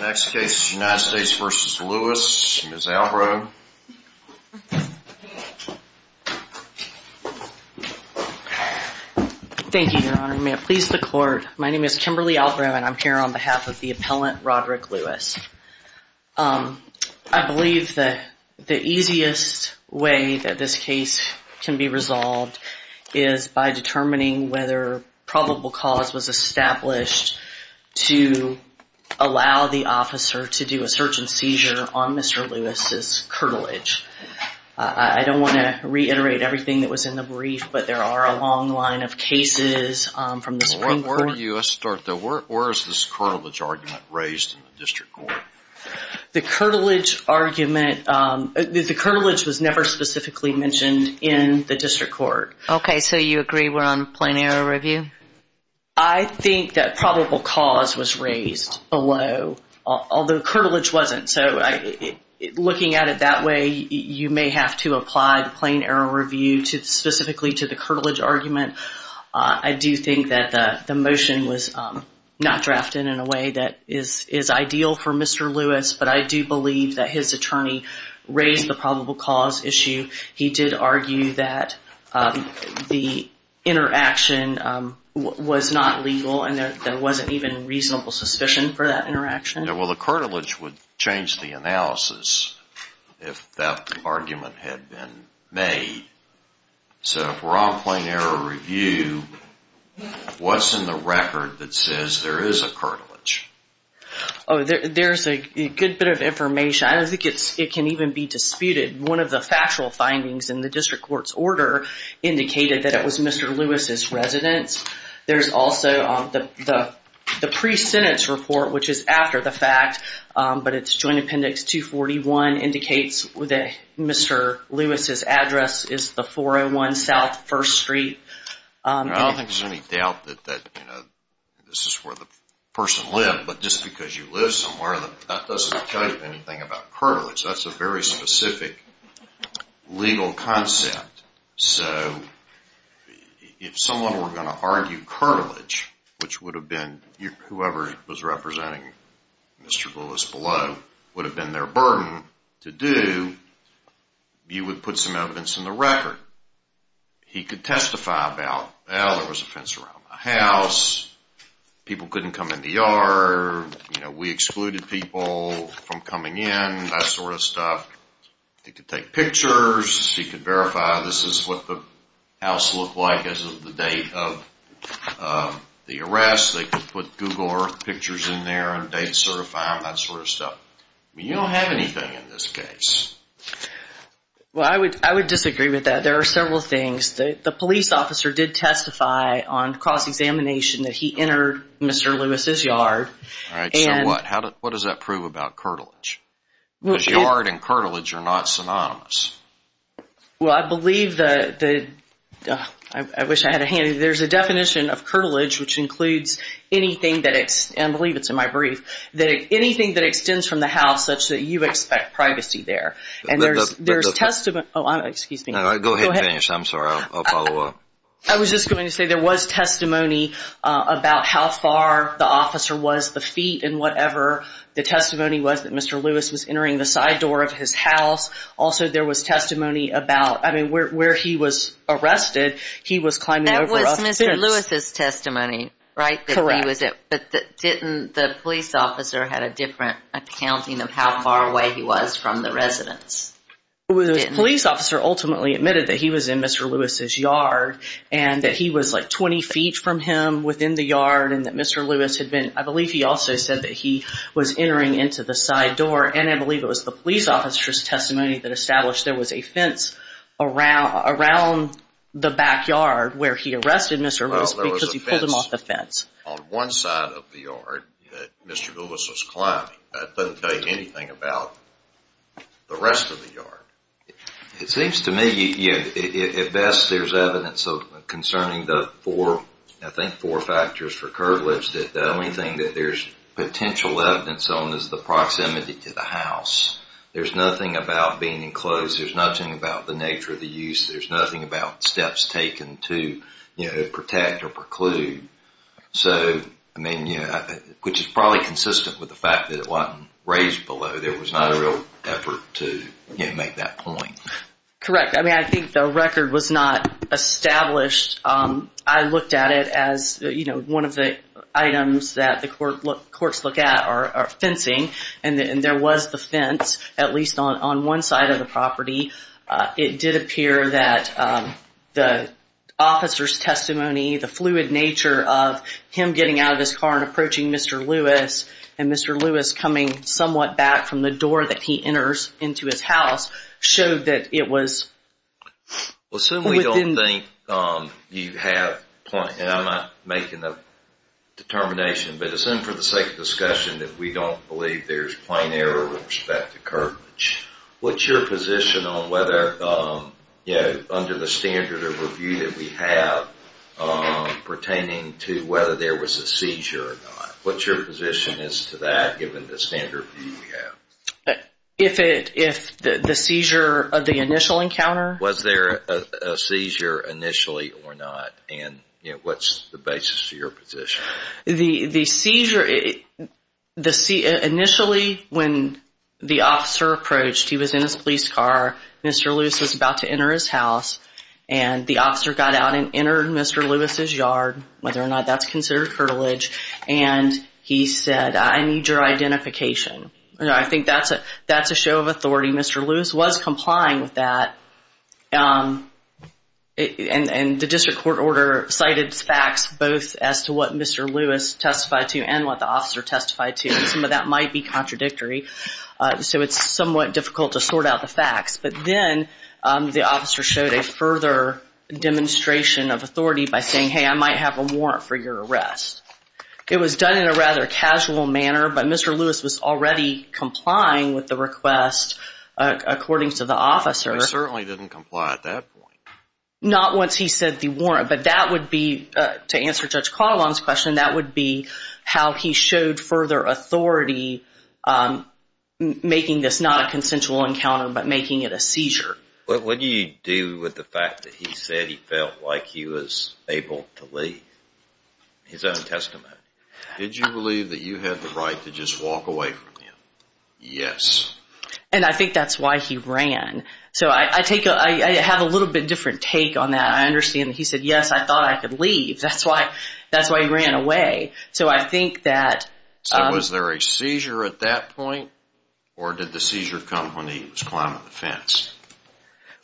Next case, United States v. Lewis, Ms. Albrow. Thank you, your honor. May it please the court, my name is Kimberly Albrow and I'm here on behalf of the appellant Roderick Lewis. I believe that the easiest way that this case can be resolved is by determining whether probable cause was established to allow the officer to do a search and seizure on Mr. Lewis's curtilage. I don't want to reiterate everything that was in the brief, but there are a long line of cases from the Supreme Court. Where do you start though? Where is this curtilage argument raised in the district court? The curtilage argument, the curtilage was never specifically mentioned in the district court. Okay, so you agree we're on a plain error review? I think that probable cause was raised below, although curtilage wasn't. So looking at it that way, you may have to apply the plain error review specifically to the curtilage argument. I do think that the motion was not drafted in a way that is ideal for Mr. Lewis, but I do believe that his attorney raised the probable cause issue. He did argue that the interaction was not legal and there wasn't even reasonable suspicion for that interaction. The curtilage would change the analysis if that argument had been made. So if we're on plain error review, what's in the record that says there is a curtilage? There's a good bit of information. I don't think it can even be disputed. One of the indicated that it was Mr. Lewis' residence. There's also the pre-sentence report, which is after the fact, but it's Joint Appendix 241, indicates that Mr. Lewis' address is the 401 South 1st Street. I don't think there's any doubt that this is where the person lived, but just because you live somewhere, that doesn't tell you anything about curtilage. That's a very specific legal concept. So if someone were going to argue curtilage, which would have been whoever was representing Mr. Lewis below, would have been their burden to do, you would put some evidence in the record. He could testify about, well, there was a fence around the house. People couldn't come in the yard. We excluded people from coming in, that sort of stuff. He could take pictures. He could verify this is what the house looked like as of the date of the arrest. They could put Google Earth pictures in there and date certifying, that sort of stuff. You don't have anything in this case. I would disagree with that. There are several things. The police officer did testify on cross-examination that he entered Mr. Lewis' yard. What does that prove about curtilage? Because yard and curtilage are not synonymous. Well, I believe, I wish I had a hand. There's a definition of curtilage which includes anything that, and I believe it's in my brief, that anything that extends from the house such that you expect privacy there, and there's testament, oh, excuse me. Go ahead, I'm sorry. I'll follow up. I was just going to say there was testimony about how far the officer was, the feet and whatever. The testimony was that Mr. Lewis was entering the side door of his house. Also, there was testimony about, I mean, where he was arrested, he was climbing over a fence. That was Mr. Lewis' testimony, right? Correct. But didn't the police officer have a different accounting of how far away he was from the residence? The police officer ultimately admitted that he was in Mr. Lewis' yard and that he was like 20 feet from him within the yard and that Mr. Lewis had been, I believe he also said that he was entering into the side door, and I believe it was the police officer's testimony that established there was a fence around the backyard where he arrested Mr. Lewis because he pulled him off the fence. Well, there was a fence on one side of the yard that Mr. Lewis was climbing. That doesn't tell you anything about the rest of the yard. It seems to me at best there's evidence concerning the four, I think four factors for curvilege that the only thing that there's potential evidence on is the proximity to the house. There's nothing about being enclosed. There's nothing about the nature of the use. There's nothing about steps taken to protect or preclude. So, I mean, which is probably consistent with the fact that it wasn't raised below. There was not a real effort to make that point. Correct. I mean, I think the record was not established. I looked at it as one of the items that the courts look at are fencing, and there was the fence at least on one side of the property. It did appear that the officer's testimony, the fluid nature of him getting out of his car and approaching Mr. Lewis, and Mr. Lewis coming somewhat back from the door that he enters into his house, showed that it was within... Well, assume we don't think you have point, and I'm not making a determination, but assume for the sake of discussion that we don't believe there's plain error with respect to curvilege. What's your position on whether, you know, under the standard of review that we have pertaining to whether there was a seizure or not? What's your position as to that given the standard review we have? If the seizure of the initial encounter... Was there a seizure initially or not? And, you know, what's the basis to your position? The seizure, initially when the officer approached, he was in his police car, Mr. Lewis was about to enter his house, and the officer got out and entered Mr. Lewis' yard, whether or not that's considered curvilege, and he said, I need your identification. You know, I think that's a show of authority. Mr. Lewis was complying with that, and the district court order cited facts both as to what Mr. Lewis testified to and what the officer testified to, and some of that might be contradictory, so it's somewhat difficult to sort out the officer showed a further demonstration of authority by saying, hey, I might have a warrant for your arrest. It was done in a rather casual manner, but Mr. Lewis was already complying with the request according to the officer. He certainly didn't comply at that point. Not once he said the warrant, but that would be, to answer Judge Caldwell's question, that would be how he showed further authority making this not a consensual encounter, but making it a seizure. What do you do with the fact that he said he felt like he was able to leave? His own testimony. Did you believe that you had the right to just walk away from him? Yes. And I think that's why he ran. So I take a, I have a little bit different take on that. I understand that he said, yes, I thought I could leave. That's why he ran away. So I think that Was there a seizure at that point or did the seizure come when he was climbing the fence?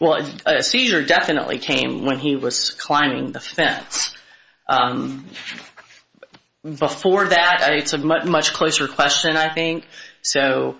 Well, a seizure definitely came when he was climbing the fence. Before that, it's a much closer question, I think. So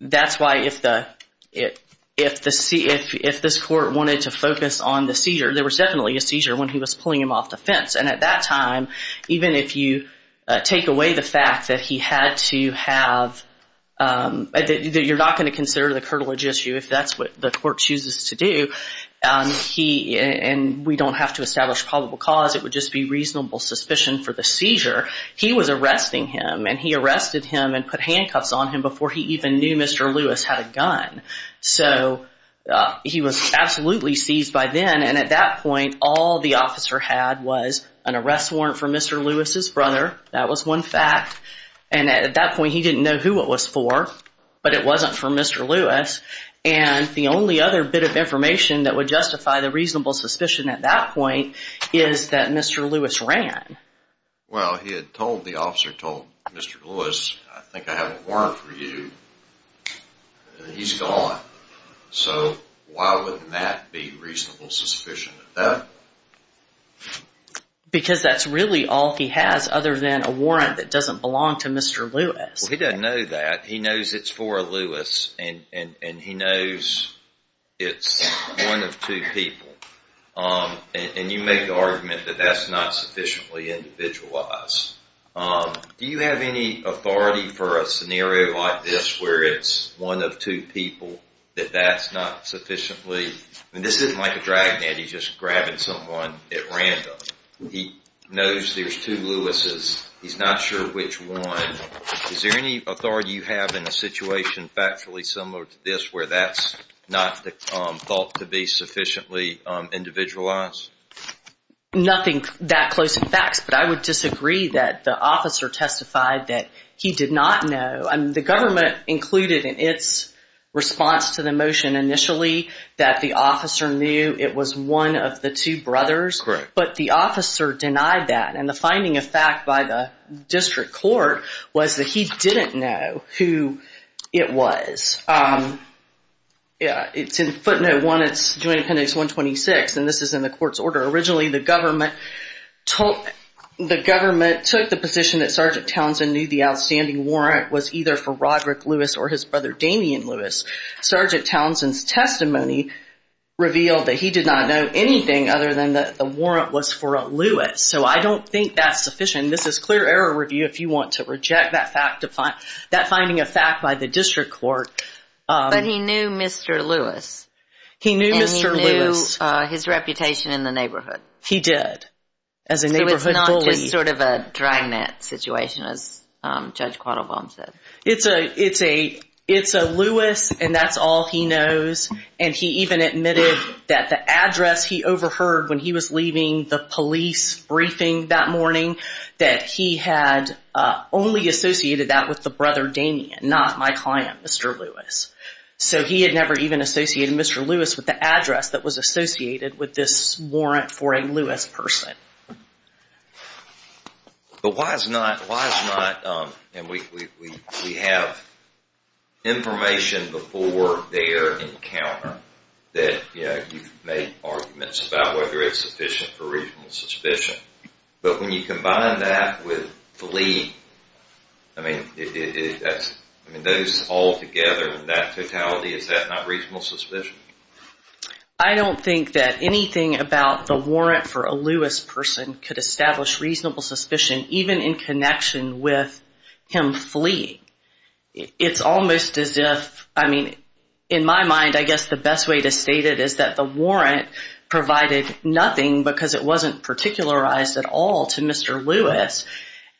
that's why if the, if the, if this court wanted to focus on the seizure, there was definitely a seizure when he was take away the fact that he had to have, that you're not going to consider the curtilage issue if that's what the court chooses to do. He, and we don't have to establish probable cause. It would just be reasonable suspicion for the seizure. He was arresting him and he arrested him and put handcuffs on him before he even knew Mr. Lewis had a gun. So he was absolutely seized by then. And at that point, all the officer had was an arrest warrant for Mr. Lewis's brother. That was one fact. And at that point he didn't know who it was for, but it wasn't for Mr. Lewis. And the only other bit of information that would justify the reasonable suspicion at that point is that Mr. Lewis ran. Well, he had told, the officer told Mr. Lewis, I think I have a warrant for you. He's gone. So why wouldn't that be reasonable suspicion at that point? Because that's really all he has other than a warrant that doesn't belong to Mr. Lewis. Well, he doesn't know that. He knows it's for Lewis and he knows it's one of two people. And you make the argument that that's not sufficiently individualized. Do you have any authority for a scenario like this where it's one of two people, that that's not sufficiently, and this isn't like a dragnet, he's just grabbing someone at random. He knows there's two Lewis's. He's not sure which one. Is there any authority you have in a situation factually similar to this where that's not thought to be sufficiently individualized? Nothing that close to facts, but I would disagree that the officer testified that he did not know. The government included in its response to the motion initially that the officer knew it was one of the two brothers. Correct. But the officer denied that. And the finding of fact by the district court was that he didn't know who it was. It's in footnote one, it's Joint Appendix 126, and this is in the court's order. Originally the government took the position that Sgt. Townsend knew the outstanding warrant was either for Roderick Lewis or his brother Damian Lewis. Sgt. Townsend's testimony revealed that he did not know anything other than that the warrant was for a Lewis. So I don't think that's sufficient. This is clear error review if you want to reject that finding of fact by the district court. But he knew Mr. Lewis. He knew Mr. Lewis. And he knew his reputation in the neighborhood. He did, as a neighborhood bully. So it's not just sort of a dragnet situation, as Judge Quattlebaum said. It's a Lewis, and that's all he knows. And he even admitted that the address he overheard when he was leaving the police briefing that morning, that he had only associated that with the brother Damian, not my client, Mr. Lewis. So he had never even associated Mr. Lewis with the address that was associated with this warrant for a Lewis person. But why is not, why is not, and we have information before their encounter that you've made arguments about whether it's sufficient for reasonable suspicion. But when you combine that with flea, I mean, those all together, that totality, is that not reasonable suspicion? I don't think that anything about the warrant for a Lewis person could establish reasonable suspicion, even in connection with him fleeing. It's almost as if, I mean, in my mind, I guess the best way to state it is that the warrant provided nothing because it wasn't particularized at all to Mr. Lewis.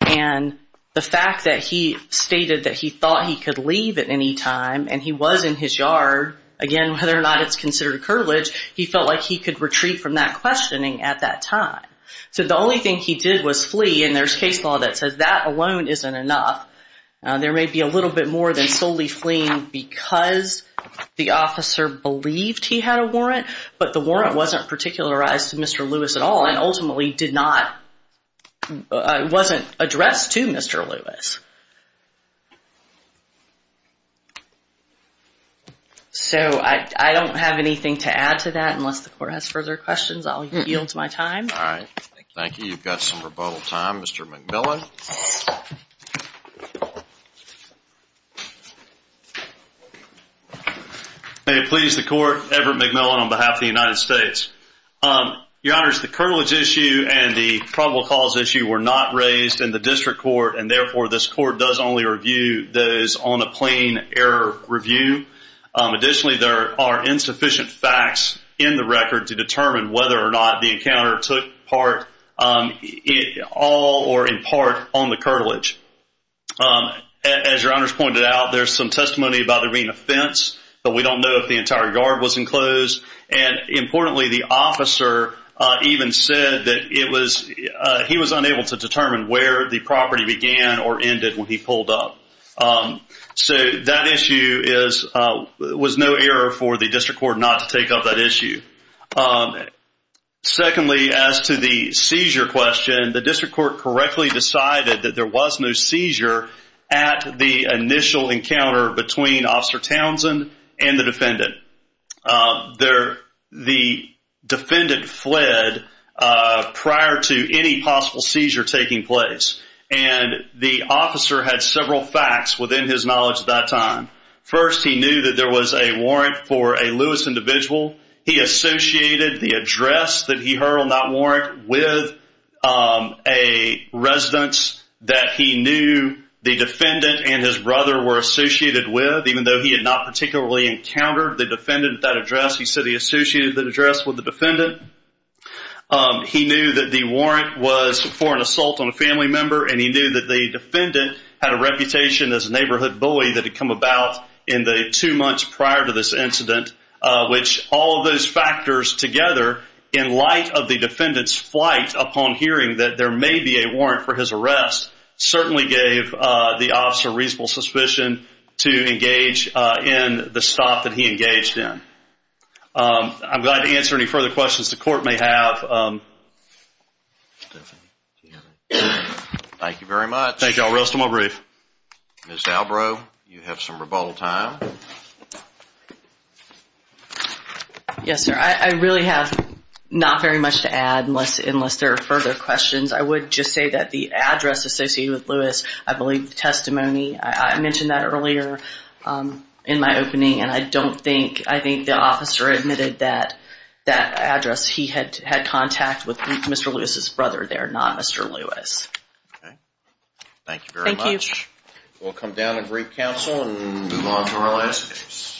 And the fact that he stated that he thought he could leave at any time, and he was in his yard, again, whether or not it's considered a curtilage, he felt like he could retreat from that questioning at that time. So the only thing he did was flee, and there's case law that says that alone isn't enough. There may be a little bit more than solely fleeing because the officer believed he had a warrant, but the warrant wasn't particularized to Mr. Lewis at all and ultimately wasn't addressed to Mr. Lewis. So I don't have anything to add to that unless the Court has further questions. I'll yield my time. All right. Thank you. You've got some rebuttal time. Mr. McMillan. May it please the Court, Everett McMillan on behalf of the United States. Your Honors, the curtilage issue and the probable cause issue were not raised in the District Court, and therefore this Court does only review those on a plain error review. Additionally, there are insufficient facts in the record to determine whether or not the encounter took part, all or in part, on the curtilage. As Your Honors pointed out, there's some testimony about there being a fence, but we don't know if the entire yard was enclosed. And importantly, the officer even said that he was unable to determine where the property began or ended when he pulled up. So that issue was no error for the District Court not to take up that issue. Secondly, as to the seizure question, the District Court correctly decided that there was no seizure at the initial encounter between Officer Townsend and the defendant. The defendant fled prior to any possible seizure taking place, and the officer had several facts within his knowledge at that time. First, he knew that there was a warrant for a Lewis individual. He associated the address that he heard on that warrant with a residence that he knew the defendant and his brother were associated with, even though he had not particularly encountered the defendant at that address. He said he associated that address with the defendant. He knew that the warrant was for an assault on a family member, and he knew that the defendant had a reputation as a neighborhood bully that had come about in the two months prior to this incident, which all of those factors together, in light of the defendant's flight upon hearing that there may be a warrant for his arrest, certainly gave the officer reasonable suspicion to engage in the stop that he engaged in. I'm glad to answer any further questions the Court may have. Thank you very much. Thank you. I'll rest on my brief. Ms. Albro, you have some rebuttal time. Yes, sir. I really have not very much to add unless there are further questions. I would just say that the address associated with Lewis, I believe the testimony, I mentioned that earlier in my opening, and I don't think, I think the officer admitted that that address he had contact with Mr. Lewis's brother there, not Mr. Lewis. Okay. Thank you very much. We'll come down and brief counsel and move on to our last case.